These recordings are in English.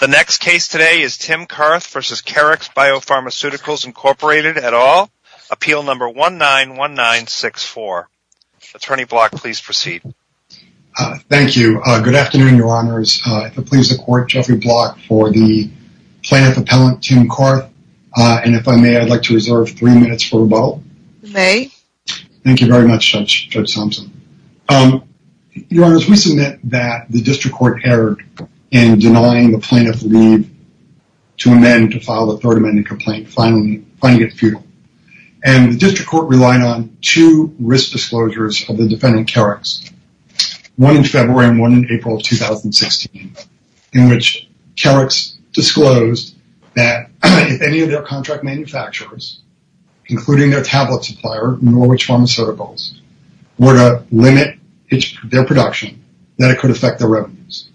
The next case today is Tim Karth v. Keryx Biopharmaceuticals, Inc. at all. Appeal number 191964. Attorney Block, please proceed. Thank you. Good afternoon, Your Honors. If it pleases the Court, Jeffrey Block for the plaintiff appellant, Tim Karth, and if I may, I'd like to reserve three minutes for rebuttal. You may. Thank you very much, Judge Thompson. Your Honors, we submit that the District Court erred in denying the plaintiff leave to amend to file the third amending complaint, finding it futile. And the District Court relied on two risk disclosures of the defendant, Keryx, one in February and one in April of 2016, in which Keryx disclosed that if any of their contract manufacturers, including their tablet supplier, Norwich Pharmaceuticals, were to limit their production, that it could affect their revenues.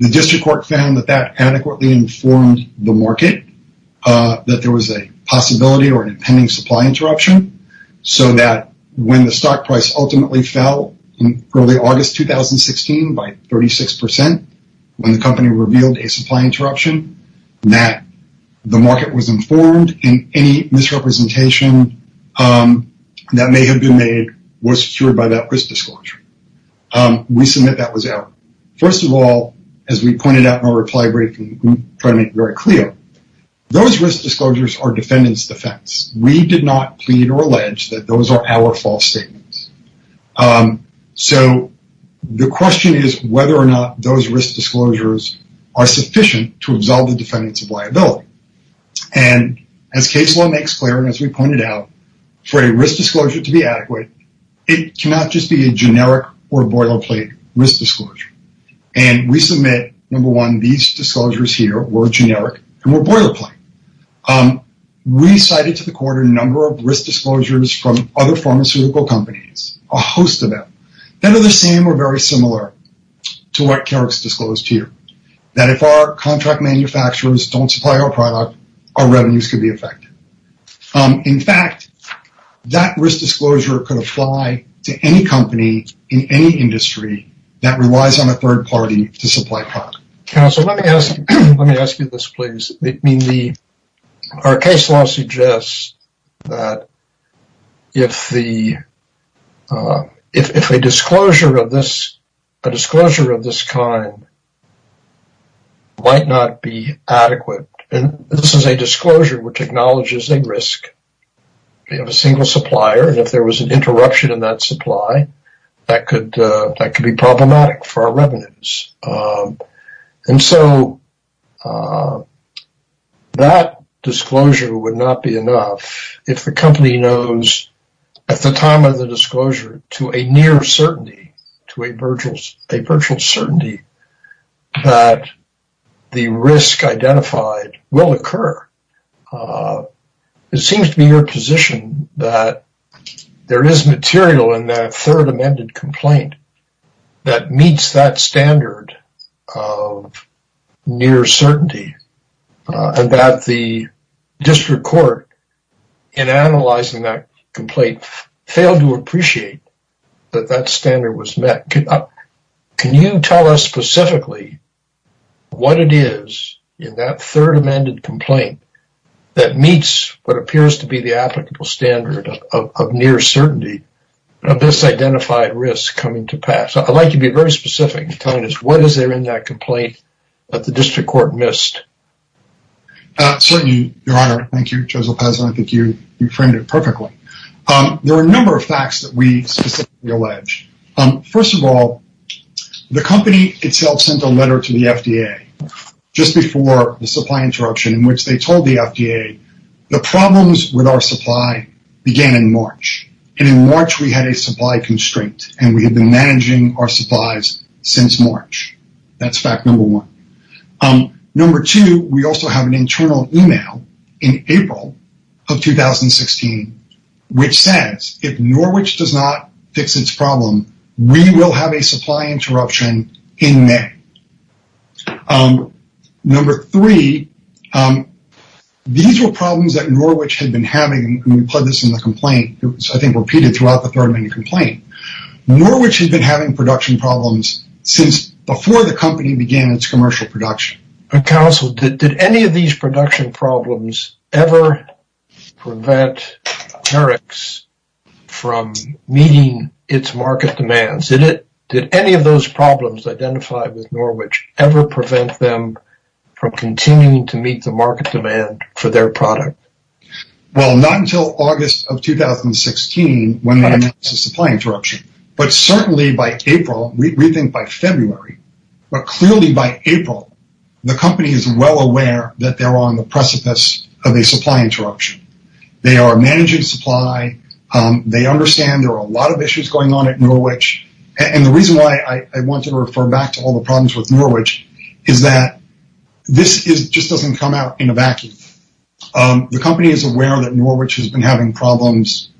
The District Court found that that adequately informed the market that there was a possibility or an impending supply interruption, so that when the stock price ultimately fell in early August 2016 by 36%, when the company revealed a supply interruption, that the market was informed and any misrepresentation that may have been made was cured by that risk disclosure. We submit that was error. First of all, as we pointed out in our reply briefing, we try to make it very clear, those risk disclosures are defendants' defense. We did not plead or allege that those are our false statements. So, the question is whether or not those risk disclosures are sufficient to absolve the defendants of liability. And as case law makes clear, and as we pointed out, for a risk disclosure to be adequate, it cannot just be a generic or boilerplate risk disclosure. And we submit, number one, these disclosures here were generic and were boilerplate. We cited to the court a number of risk disclosures from other pharmaceutical companies, a host of them, that are the same or very similar to what Carrick's disclosed here, that if our contract manufacturers don't supply our product, our revenues could be affected. In fact, that risk disclosure could apply to any company in any industry that relies on a third party to supply product. Counsel, let me ask you this, please. I mean, our case law suggests that if a disclosure of this kind might not be adequate, and this is a disclosure which acknowledges a risk of a single supplier, and if there was an And so that disclosure would not be enough if the company knows at the time of the disclosure to a near certainty, to a virtual certainty, that the risk identified will occur. It seems to be your position that there is material in that third amended complaint that meets that standard of near certainty, and that the district court, in analyzing that complaint, failed to appreciate that that standard was met. Can you tell us specifically what it is in that third amended complaint that meets what appears to be the applicable standard of near certainty of this identified risk coming to pass? So I'd like you to be very specific in telling us what is there in that complaint that the district court missed. Certainly, Your Honor. Thank you, Judge Lopez. I think you framed it perfectly. There are a number of facts that we specifically allege. First of all, the company itself sent a letter to the FDA just before the supply interruption in which they told the FDA the problems with our supply began in March, and in March we had a supply constraint, and we had been managing our supplies since March. That's fact number one. Number two, we also have an internal email in April of 2016 which says, if Norwich does not fix its problem, we will have a supply interruption in May. Number three, these were problems that Norwich had been having, and we put this in the complaint. It was, I think, repeated throughout the Thurman complaint. Norwich had been having production problems since before the company began its commercial production. Counsel, did any of these production problems ever prevent Norex from meeting its market demands? Did any of those problems identified with Norwich ever prevent them from continuing to meet the market demand for their product? Well, not until August of 2016 when they met the supply interruption, but certainly by April, we think by February, but clearly by April the company is well aware that they are on the precipice of a supply interruption. They are managing supply. They understand there are a lot of issues going on at Norwich, and the reason why I want to refer back to all the problems with Norwich is that this just doesn't come out in a vacuum. The company is aware that Norwich has been having problems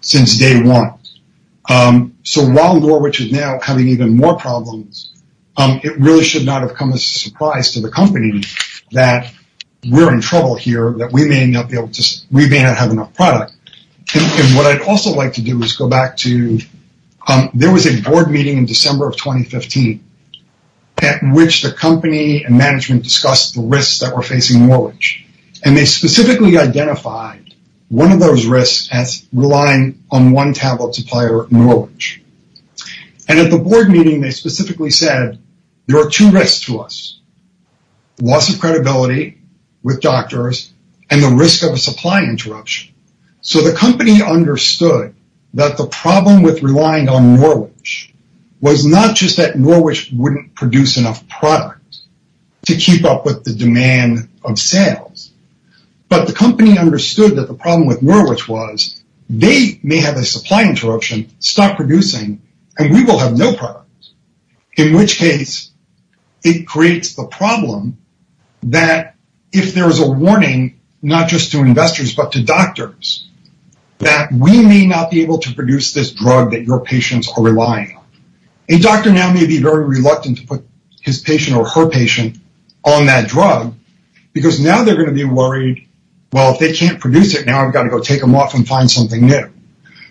since day one, so while Norwich is now having even more problems, it really should not have come as a surprise to the company that we're in trouble here, that we may not have enough product. What I'd also like to do is go back to, there was a board meeting in December of 2015 at which the company and management discussed the risks that were facing Norwich, and they specifically identified one of those risks as relying on one tablet supplier, Norwich. At the board meeting, they specifically said, there are two risks to us, loss of credibility with doctors and the risk of a supply interruption. The company understood that the problem with relying on Norwich was not just that Norwich wouldn't produce enough product to keep up with the demand of sales, but the company understood that the problem with Norwich was they may have a supply interruption, stop producing, and we will have no product, in which case it creates the problem that if there is a warning, not just to investors but to doctors, that we may not be able to produce this drug that your patients are relying on. A doctor now may be very reluctant to put his patient or her patient on that drug because now they're going to be worried, well, if they can't produce it now, I've got to go take them off and find something new.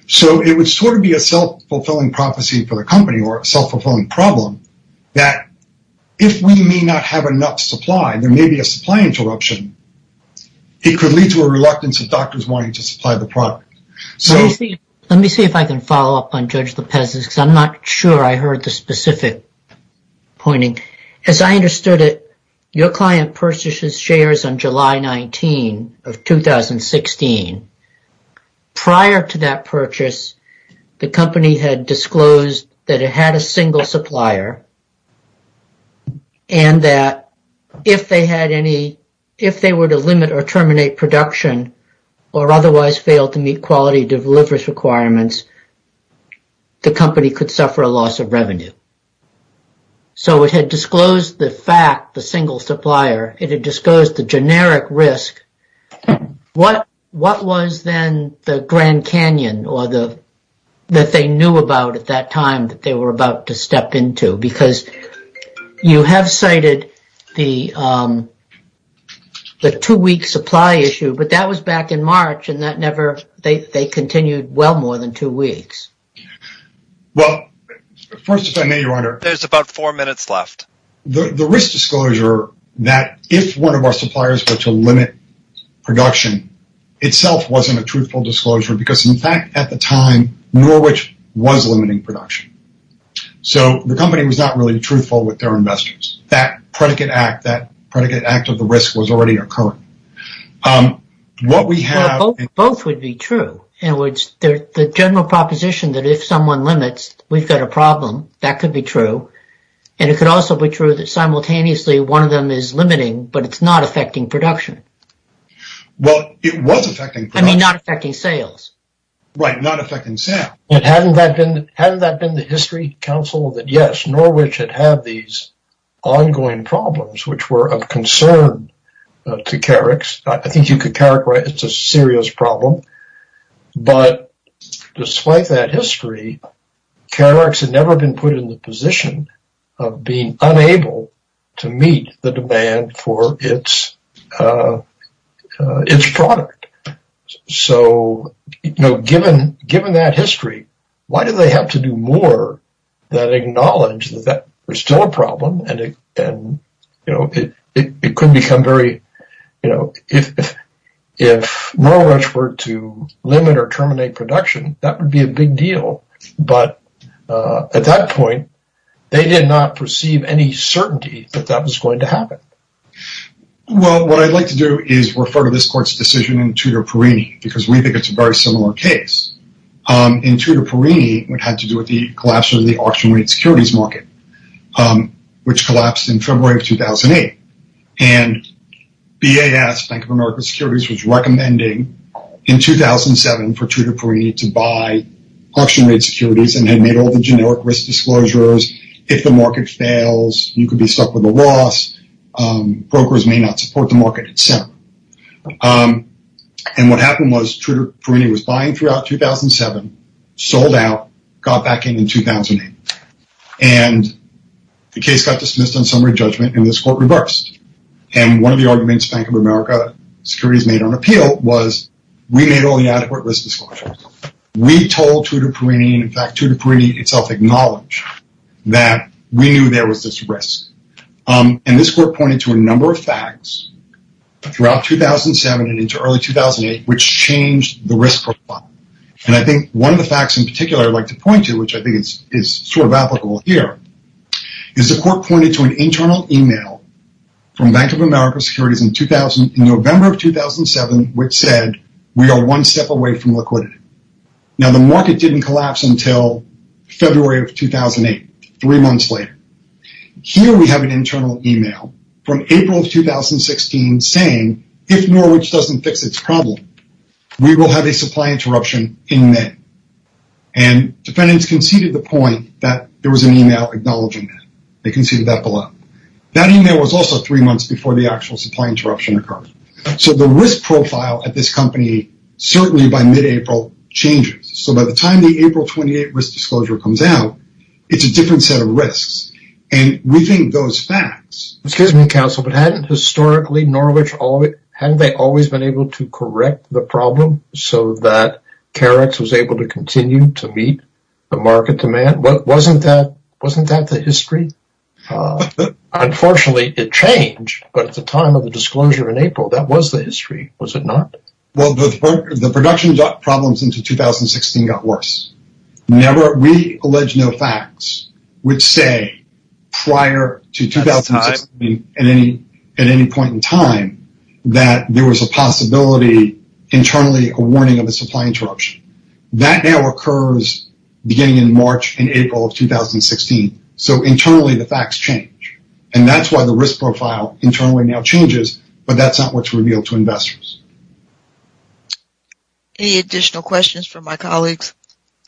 It would be a self-fulfilling prophecy for the company or a self-fulfilling problem that if we may not have enough supply, there may be a supply interruption, it could lead to a reluctance of doctors wanting to supply the product. Let me see if I can follow up on Judge Lopez's because I'm not sure I heard the specific pointing. As I understood it, your client purchased his shares on July 19 of 2016. Prior to that purchase, the company had disclosed that it had a single supplier and that if they were to limit or terminate production or otherwise fail to meet quality deliverance requirements, the company could suffer a loss of revenue. It had disclosed the fact, the single supplier, it had disclosed the generic risk. What was then the Grand Canyon that they knew about at that time that they were about to the two-week supply issue, but that was back in March and they continued well more than two weeks. There's about four minutes left. The risk disclosure that if one of our suppliers were to limit production itself wasn't a truthful disclosure because in fact at the time, Norwich was limiting production. The company was not really truthful with their investors. That predicate act of the risk was already occurring. What we have... Both would be true in which the general proposition that if someone limits, we've got a problem, that could be true. It could also be true that simultaneously one of them is limiting, but it's not affecting production. It was affecting production. I mean, not affecting sales. Right. Not affecting sales. Hadn't that been the history, counsel, that yes, Norwich had had these ongoing problems which were of concern to Carex. I think you could characterize it as a serious problem, but despite that history, Carex had never been put in the position of being unable to meet the demand for its product. So, given that history, why do they have to do more than acknowledge that there's still a problem and it could become very, you know, if Norwich were to limit or terminate production, that would be a big deal, but at that point, they did not perceive any certainty that that was going to happen. Well, what I'd like to do is refer to this court's decision in Tudor-Perini because we think it's a very similar case. In Tudor-Perini, it had to do with the collapse of the auction rate securities market, which collapsed in February of 2008, and BAS, Bank of America Securities, was recommending in 2007 for Tudor-Perini to buy auction rate securities and had made all the generic risk brokers may not support the market itself, and what happened was Tudor-Perini was buying throughout 2007, sold out, got back in 2008, and the case got dismissed on summary judgment and this court reversed, and one of the arguments Bank of America Securities made on appeal was we made all the adequate risk disclosures. We told Tudor-Perini, in fact, Tudor-Perini itself acknowledged that we knew there was this risk, and this court pointed to a number of facts throughout 2007 and into early 2008, which changed the risk profile, and I think one of the facts in particular I'd like to point to, which I think is sort of applicable here, is the court pointed to an internal email from Bank of America Securities in November of 2007, which said, we are one step away from liquidity. Now, the market didn't collapse until February of 2008, three months later. Here we have an internal email from April of 2016 saying, if Norwich doesn't fix its problem, we will have a supply interruption in May, and defendants conceded the point that there was an email acknowledging that, they conceded that below. That email was also three months before the actual supply interruption occurred, so the April changes. So, by the time the April 28 risk disclosure comes out, it's a different set of risks, and we think those facts… Excuse me, counsel, but hadn't historically Norwich, hadn't they always been able to correct the problem so that Carex was able to continue to meet the market demand? Wasn't that the history? Unfortunately, it changed, but at the time of the disclosure in April, that was the history, was it not? Well, the production problems into 2016 got worse. We allege no facts which say prior to 2016, at any point in time, that there was a possibility internally a warning of a supply interruption. That now occurs beginning in March and April of 2016, so internally the facts change, and that's why the risk profile internally now changes, but that's not what's revealed to investors. Any additional questions from my colleagues?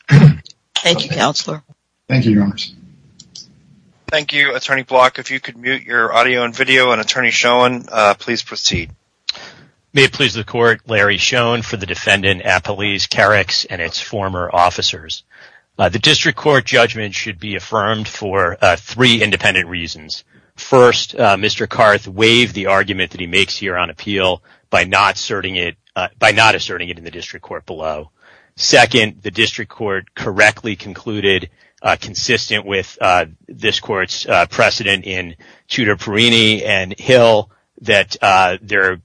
Thank you, Counselor. Thank you, Your Honors. Thank you, Attorney Block. If you could mute your audio and video, and Attorney Schoen, please proceed. May it please the Court, Larry Schoen for the defendant, Apolise Carex, and its former officers. The District Court judgment should be affirmed for three independent reasons. First, Mr. Karth waived the argument that he makes here on appeal by not asserting it in the District Court below. Second, the District Court correctly concluded, consistent with this Court's precedent in Ciudar Perini and Hill, that the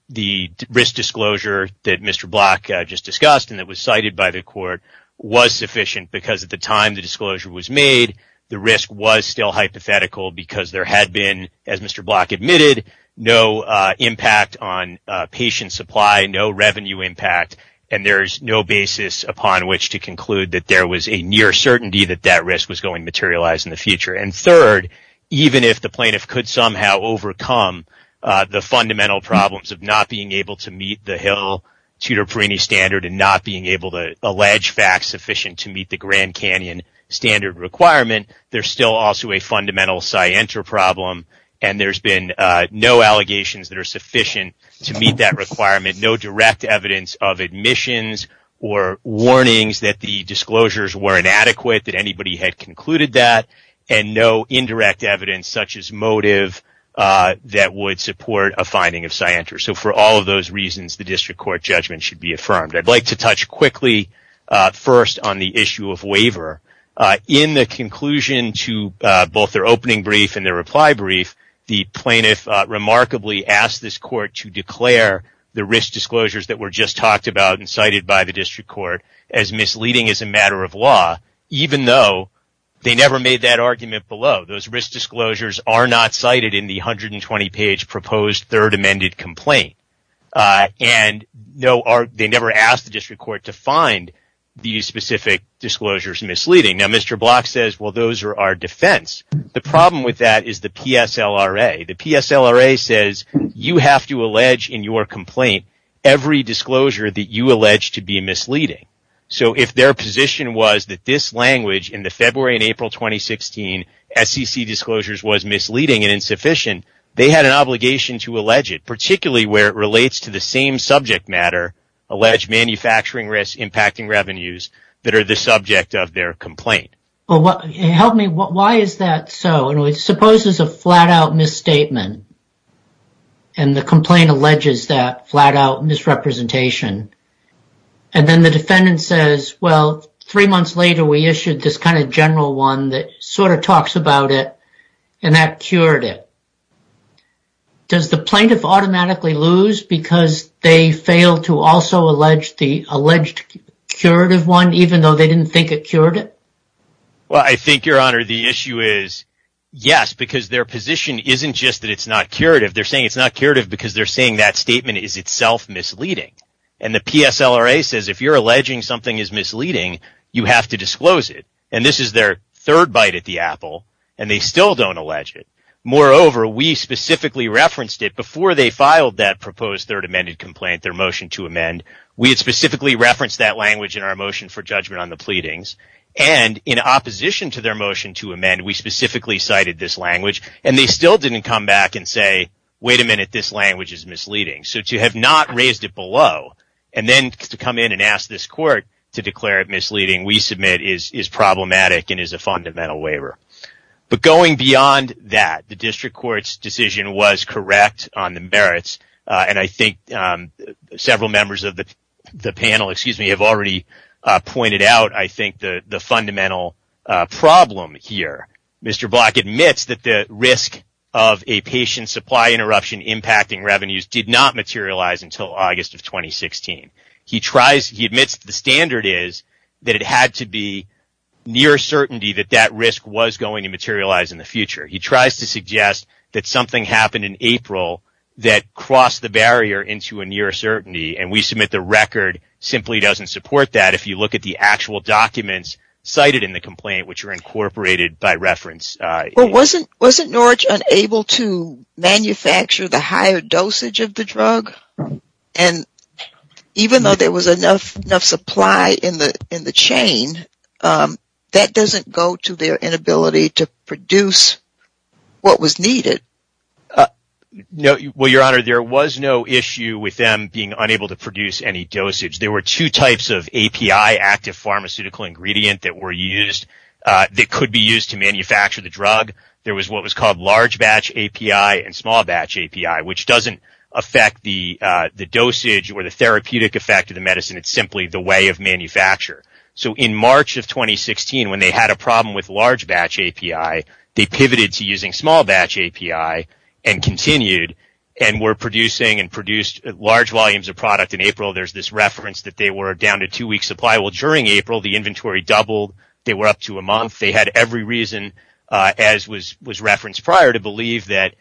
risk disclosure that Mr. Block just discussed and that was cited by the Court was sufficient because at the time the disclosure was made, the risk was still hypothetical because there had been, as Mr. Block admitted, no impact on patient supply, no revenue impact, and there's no basis upon which to conclude that there was a near certainty that that risk was going to materialize in the future. And third, even if the plaintiff could somehow overcome the fundamental problems of not being able to meet the Hill-Ciudar Perini standard and not being able to allege facts sufficient to meet the Grand Canyon standard requirement, there's still also a fundamental Scienter problem and there's been no allegations that are sufficient to meet that requirement, no direct evidence of admissions or warnings that the disclosures were inadequate, that anybody had concluded that, and no indirect evidence such as motive that would support a finding of Scienter. So for all of those reasons, the District Court judgment should be affirmed. I'd like to touch quickly first on the issue of waiver. In the conclusion to both their opening brief and their reply brief, the plaintiff remarkably asked this Court to declare the risk disclosures that were just talked about and cited by the District Court as misleading as a matter of law, even though they never made that argument below. Those risk disclosures are not cited in the 120-page proposed Third Amended Complaint and they never asked the District Court to find these specific disclosures misleading. Now, Mr. Block says, well, those are our defense. The problem with that is the PSLRA. The PSLRA says you have to allege in your complaint every disclosure that you allege to be misleading. So if their position was that this language in the February and April 2016 SEC disclosures was misleading and insufficient, they had an obligation to allege it, particularly where it relates to the same subject matter, allege manufacturing risk impacting revenues that are the subject of their complaint. Help me. Why is that so? It supposes a flat-out misstatement and the complaint alleges that flat-out misrepresentation. And then the defendant says, well, three months later, we issued this kind of general one that sort of talks about it and that cured it. Does the plaintiff automatically lose because they fail to also allege the alleged curative one even though they didn't think it cured it? Well, I think, Your Honor, the issue is yes, because their position isn't just that it's not curative. They're saying it's not curative because they're saying that statement is itself misleading. And the PSLRA says if you're alleging something is misleading, you have to disclose it. And this is their third bite at the apple, and they still don't allege it. Moreover, we specifically referenced it before they filed that proposed third amended complaint, their motion to amend. We had specifically referenced that language in our motion for judgment on the pleadings. And in opposition to their motion to amend, we specifically cited this language. And they still didn't come back and say, wait a minute, this language is misleading. So to have not raised it below and then to come in and ask this court to declare it misleading, we submit, is problematic and is a fundamental waiver. But going beyond that, the district court's decision was correct on the merits, and I think several members of the panel have already pointed out, I think, the fundamental problem here. Mr. Block admits that the risk of a patient supply interruption impacting revenues did not materialize until August of 2016. He tries, he admits the standard is that it had to be near certainty that that risk was going to materialize in the future. He tries to suggest that something happened in April that crossed the barrier into a near certainty, and we submit the record simply doesn't support that. If you look at the actual documents cited in the complaint, which are incorporated by reference. Well, wasn't Norwich unable to manufacture the higher dosage of the drug? And even though there was enough supply in the chain, that doesn't go to their inability to produce what was needed. No, well, Your Honor, there was no issue with them being unable to produce any dosage. There were two types of API, active pharmaceutical ingredient, that were used, that could be used to manufacture the drug. There was what was called large batch API and small batch API, which doesn't affect the dosage or the therapeutic effect of the medicine. It's simply the way of manufacture. So in March of 2016, when they had a problem with large batch API, they pivoted to using small batch API and continued and were producing and produced large volumes of product in April. There's this reference that they were down to two weeks supply. Well, during April, the inventory doubled. They were up to a month. They had every reason, as was referenced prior, to believe that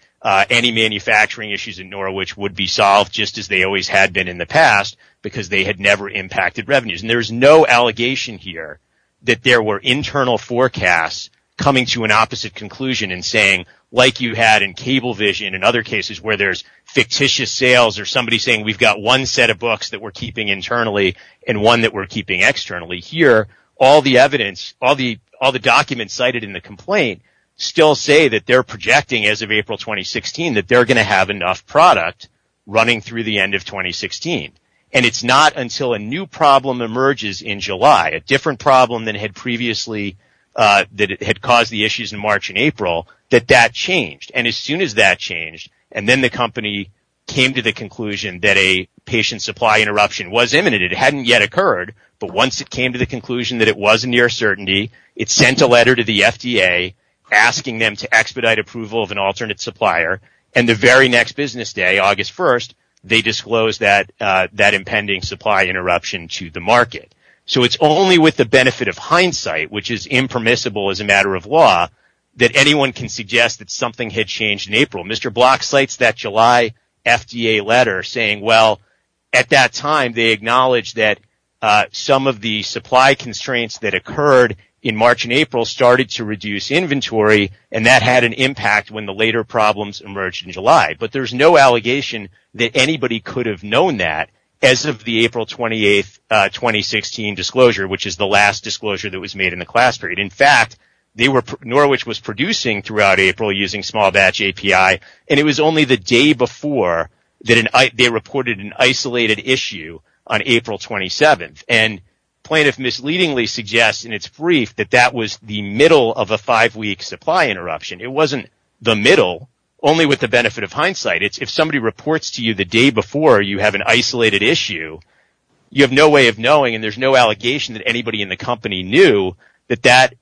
any manufacturing issues in Norwich would be solved just as they always had been in the past because they had never impacted revenues. And there's no allegation here that there were internal forecasts coming to an opposite conclusion and saying, like you had in cable vision and other cases where there's fictitious sales or somebody saying, we've got one set of books that we're keeping internally and one that we're keeping externally. Here, all the evidence, all the documents cited in the complaint still say that they're projecting as of April 2016 that they're going to have enough product running through the end of 2016. And it's not until a new problem emerges in July, a different problem than had previously that had caused the issues in March and April that that changed. And as soon as that changed and then the company came to the conclusion that a patient supply interruption was imminent, it hadn't yet occurred. But once it came to the conclusion that it wasn't near certainty, it sent a letter to the FDA asking them to expedite approval of an alternate supplier. And the very next business day, August 1st, they disclosed that that impending supply interruption to the market. So it's only with the benefit of hindsight, which is impermissible as a matter of law, that anyone can suggest that something had changed in April. Mr. Block cites that July FDA letter saying, well, at that time, they acknowledged that some of the supply constraints that occurred in March and April started to reduce inventory. And that had an impact when the later problems emerged in July. But there's no allegation that anybody could have known that as of the April 28th, 2016 disclosure, which is the last disclosure that was made in the class period. In fact, Norwich was producing throughout April using small batch API. And it was only the day before that they reported an isolated issue on April 27th. And plaintiff misleadingly suggests in its brief that that was the middle of a five week supply interruption. It wasn't the middle, only with the benefit of hindsight. It's if somebody reports to you the day before you have an isolated issue, you have no way of knowing and there's no allegation that anybody in the company knew that that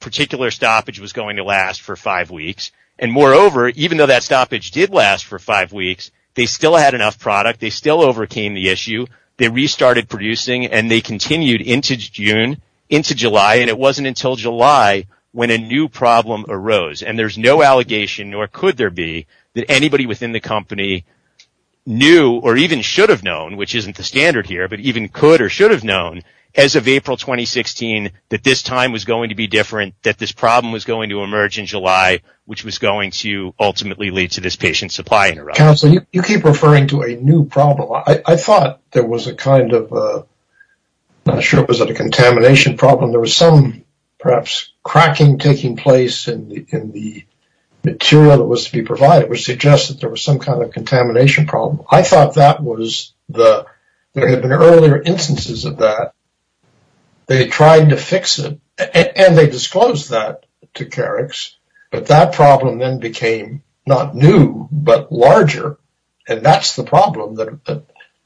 particular stoppage was going to last for five weeks. And moreover, even though that stoppage did last for five weeks, they still had enough product. They still overcame the issue. They restarted producing and they continued into June, into July. And it wasn't until July when a new problem arose. And there's no allegation, nor could there be, that anybody within the company knew or even should have known, which isn't the standard here, but even could or should have known as of April 2016 that this time was going to be different, that this problem was going to emerge in July, which was going to ultimately lead to this patient supply interruption. So you keep referring to a new problem. I thought there was a kind of, I'm not sure, was it a contamination problem? There was some perhaps cracking taking place in the material that was to be provided, which suggests that there was some kind of contamination problem. I thought that was the, there had been earlier instances of that. They tried to fix it and they disclosed that to Carex, but that problem then became not new, but larger and that's the problem that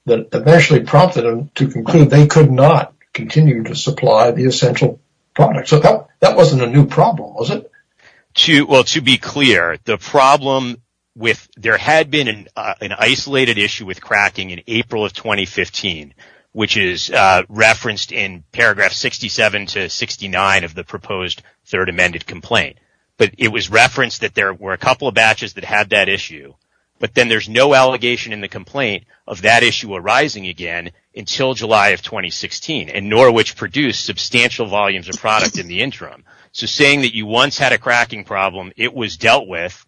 eventually prompted them to conclude they could not continue to supply the essential product. So that wasn't a new problem, was it? Well, to be clear, the problem with, there had been an isolated issue with cracking in April of 2015, which is referenced in paragraph 67 to 69 of the proposed third amended complaint, but it was referenced that there were a couple of batches that had that issue, but then there's no allegation in the complaint of that issue arising again until July of 2016 and nor which produced substantial volumes of product in the interim. So saying that you once had a cracking problem, it was dealt with,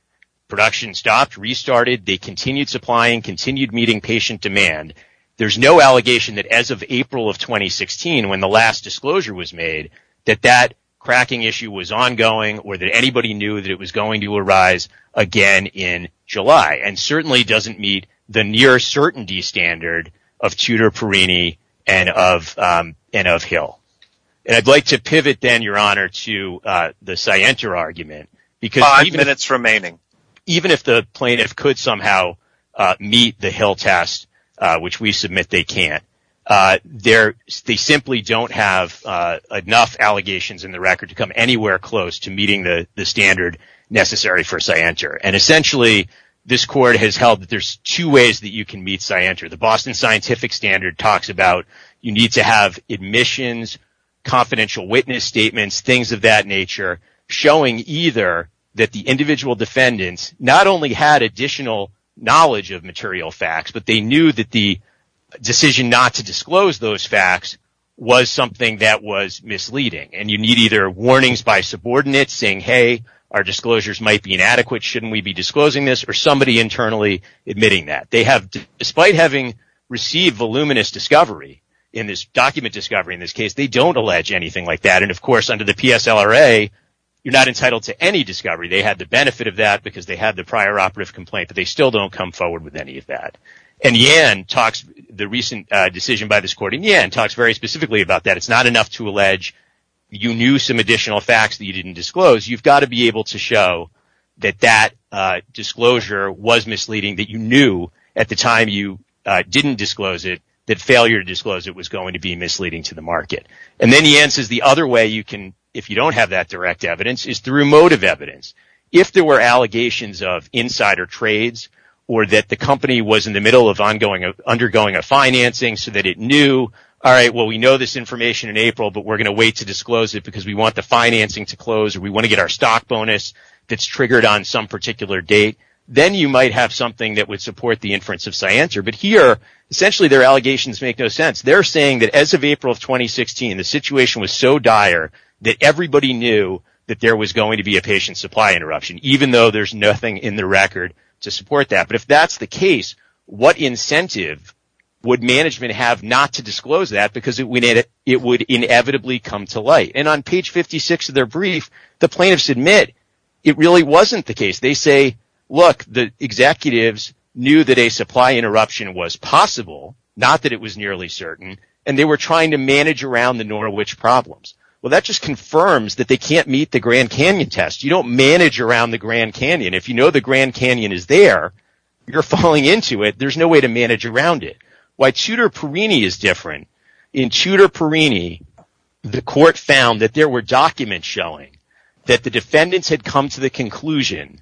production stopped, restarted, they continued supplying, continued meeting patient demand. There's no allegation that as of April of 2016, when the last disclosure was made, that cracking issue was ongoing or that anybody knew that it was going to arise again in July and certainly doesn't meet the near certainty standard of Tudor Perini and of Hill. And I'd like to pivot then, Your Honor, to the Sienta argument, because even if the plaintiff could somehow meet the Hill test, which we submit they can't, they simply don't have enough allegations in the record to come anywhere close to meeting the standard necessary for Sienta. And essentially, this court has held that there's two ways that you can meet Sienta. The Boston Scientific Standard talks about you need to have admissions, confidential witness statements, things of that nature, showing either that the individual defendants not only had additional knowledge of material facts, but they knew that the decision not to disclose those facts was something that was misleading. And you need either warnings by subordinates saying, hey, our disclosures might be inadequate, shouldn't we be disclosing this, or somebody internally admitting that. They have, despite having received voluminous discovery in this document discovery in this case, they don't allege anything like that. And of course, under the PSLRA, you're not entitled to any discovery. They had the benefit of that because they had the prior operative complaint, but they still don't come forward with any of that. And the recent decision by this court in Yan talks very specifically about that. It's not enough to allege you knew some additional facts that you didn't disclose. You've got to be able to show that that disclosure was misleading, that you knew at the time you didn't disclose it, that failure to disclose it was going to be misleading to the market. And then Yan says the other way you can, if you don't have that direct evidence, is through motive evidence. If there were allegations of insider trades or that the company was in the middle of undergoing a financing so that it knew, all right, well, we know this information in April, but we're going to wait to disclose it because we want the financing to close or we want to get our stock bonus that's triggered on some particular date, then you might have something that would support the inference of Sciencer. But here, essentially their allegations make no sense. They're saying that as of April of 2016, the situation was so dire that everybody knew that there was going to be a patient supply interruption, even though there's nothing in the record to support that. But if that's the case, what incentive would management have not to disclose that? Because it would inevitably come to light. And on page 56 of their brief, the plaintiffs admit it really wasn't the case. They say, look, the executives knew that a supply interruption was possible, not that it was nearly certain, and they were trying to manage around the nor which problems. Well, that just confirms that they can't meet the Grand Canyon test. You don't manage around the Grand Canyon. If you know the Grand Canyon is there, you're falling into it. There's no way to manage around it. Why Tudor Perini is different. In Tudor Perini, the court found that there were documents showing that the defendants had come to the conclusion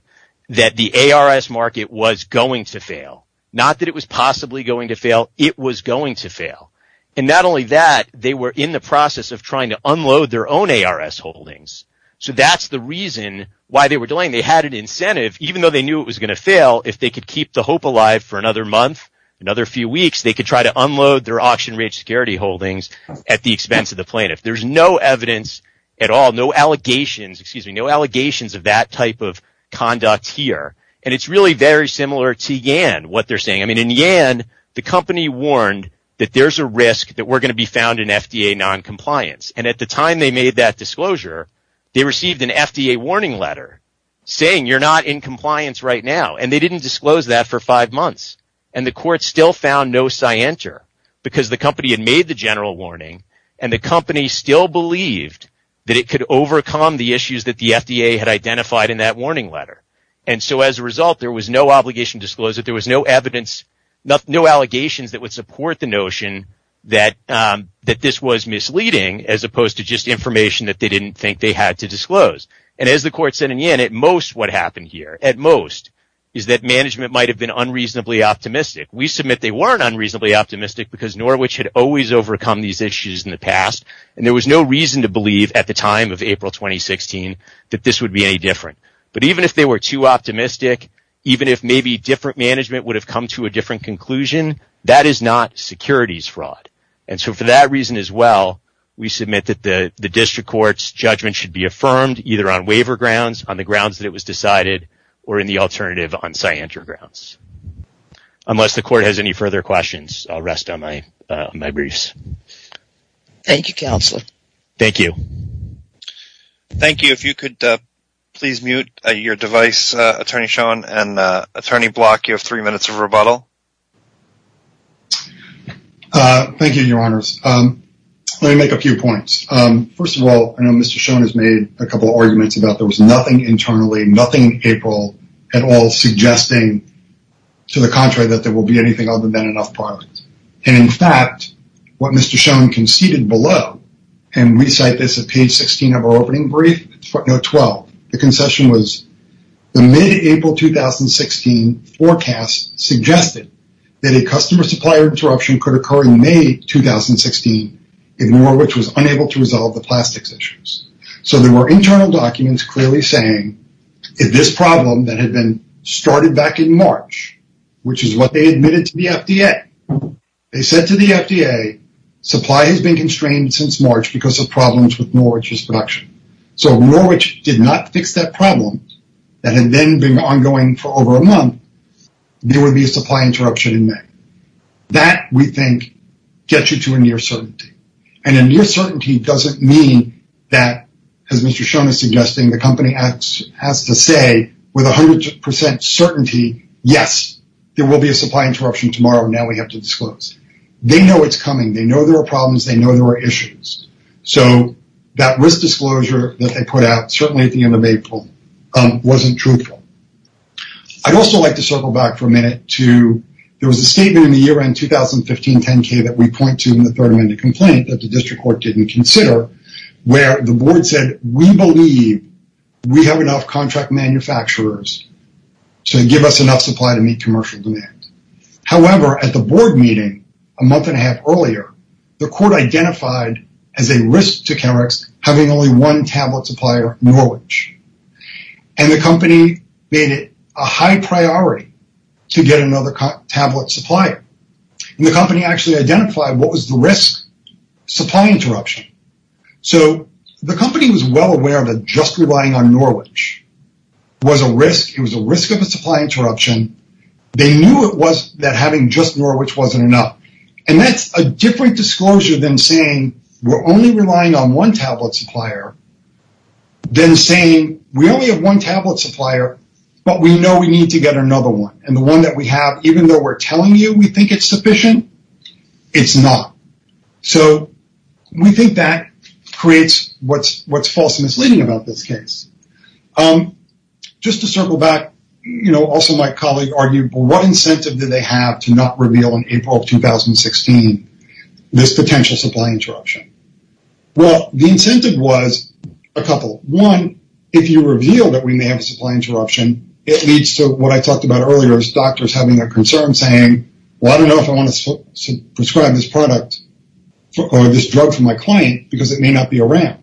that the ARS market was going to fail, not that it was possibly going to fail. It was going to fail. And not only that, they were in the process of trying to unload their own ARS holdings. So that's the reason why they were doing it. They had an incentive, even though they knew it was going to fail, if they could keep the hope alive for another month, another few weeks, they could try to unload their auction rate security holdings at the expense of the plaintiff. There's no evidence at all, no allegations of that type of conduct here. And it's really very similar to Yan, what they're saying. In Yan, the company warned that there's a risk that we're going to be found in FDA noncompliance. And at the time they made that disclosure, they received an FDA warning letter saying you're not in compliance right now. And they didn't disclose that for five months. And the court still found no scienter because the company had made the general warning and the company still believed that it could overcome the issues that the FDA had identified in that warning letter. And so as a result, there was no obligation to disclose it. There was no evidence, no allegations that would support the notion that this was misleading as opposed to just information that they didn't think they had to disclose. And as the court said in Yan, at most, what happened here, at most, is that management might have been unreasonably optimistic. We submit they weren't unreasonably optimistic because Norwich had always overcome these issues in the past and there was no reason to believe at the time of April 2016 that this would be any different. But even if they were too optimistic, even if maybe different management would have come to a different conclusion, that is not securities fraud. And so for that reason as well, we submit that the district court's judgment should be affirmed either on waiver grounds, on the grounds that it was decided, or in the alternative on scienter grounds. Unless the court has any further questions, I'll rest on my briefs. Thank you, Counselor. Thank you. Thank you. If you could please mute your device, Attorney Schoen, and Attorney Block, you have three minutes of rebuttal. Thank you, Your Honors. Let me make a few points. First of all, I know Mr. Schoen has made a couple of arguments about there was nothing internally, nothing in April at all, suggesting to the contrary that there will be anything other than enough products. And in fact, what Mr. Schoen conceded below, and we cite this at page 16 of our opening brief, note 12, the concession was, the mid-April 2016 forecast suggested that a customer supplier interruption could occur in May 2016, if Norwich was unable to resolve the plastics issues. So there were internal documents clearly saying, if this problem that had been started back in March, which is what they admitted to the FDA, they said to the FDA, supply has been So if Norwich did not fix that problem, that had then been ongoing for over a month, there would be a supply interruption in May. That, we think, gets you to a near certainty. And a near certainty doesn't mean that, as Mr. Schoen is suggesting, the company has to say with 100% certainty, yes, there will be a supply interruption tomorrow, now we have to disclose. They know it's coming. They know there are problems. They know there are issues. So that risk disclosure that they put out, certainly at the end of April, wasn't truthful. I'd also like to circle back for a minute to, there was a statement in the year-end 2015 10-K that we point to in the third-amended complaint that the district court didn't consider, where the board said, we believe we have enough contract manufacturers to give us enough supply to meet commercial demand. However, at the board meeting a month and a half earlier, the court identified as a risk to Chemex having only one tablet supplier, Norwich. And the company made it a high priority to get another tablet supplier. And the company actually identified what was the risk, supply interruption. So the company was well aware that just relying on Norwich was a risk, it was a risk of a supply interruption. They knew it was, that having just Norwich wasn't enough. And that's a different disclosure than saying, we're only relying on one tablet supplier, than saying, we only have one tablet supplier, but we know we need to get another one. And the one that we have, even though we're telling you we think it's sufficient, it's not. So we think that creates what's false and misleading about this case. Just to circle back, you know, also my colleague argued, what incentive did they have to not reveal in April of 2016 this potential supply interruption? Well, the incentive was a couple. One, if you reveal that we may have a supply interruption, it leads to what I talked about earlier as doctors having their concerns saying, well, I don't know if I want to prescribe this product or this drug for my client because it may not be around.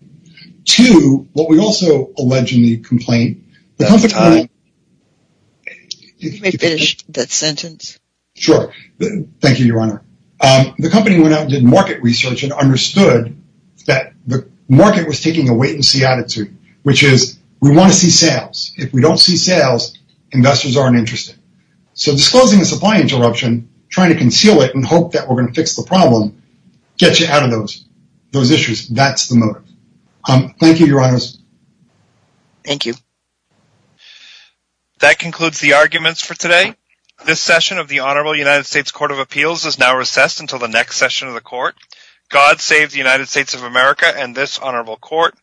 Two, what we also allege in the complaint, the company went out and did market research and understood that the market was taking a wait-and-see attitude, which is, we want to see sales. If we don't see sales, investors aren't interested. So disclosing a supply interruption, trying to conceal it and hope that we're going to fix the problem, gets you out of those issues. That's the motive. Thank you, Your Honors. Thank you. That concludes the arguments for today. This session of the Honorable United States Court of Appeals is now recessed until the next session of the Court. God save the United States of America and this Honorable Court.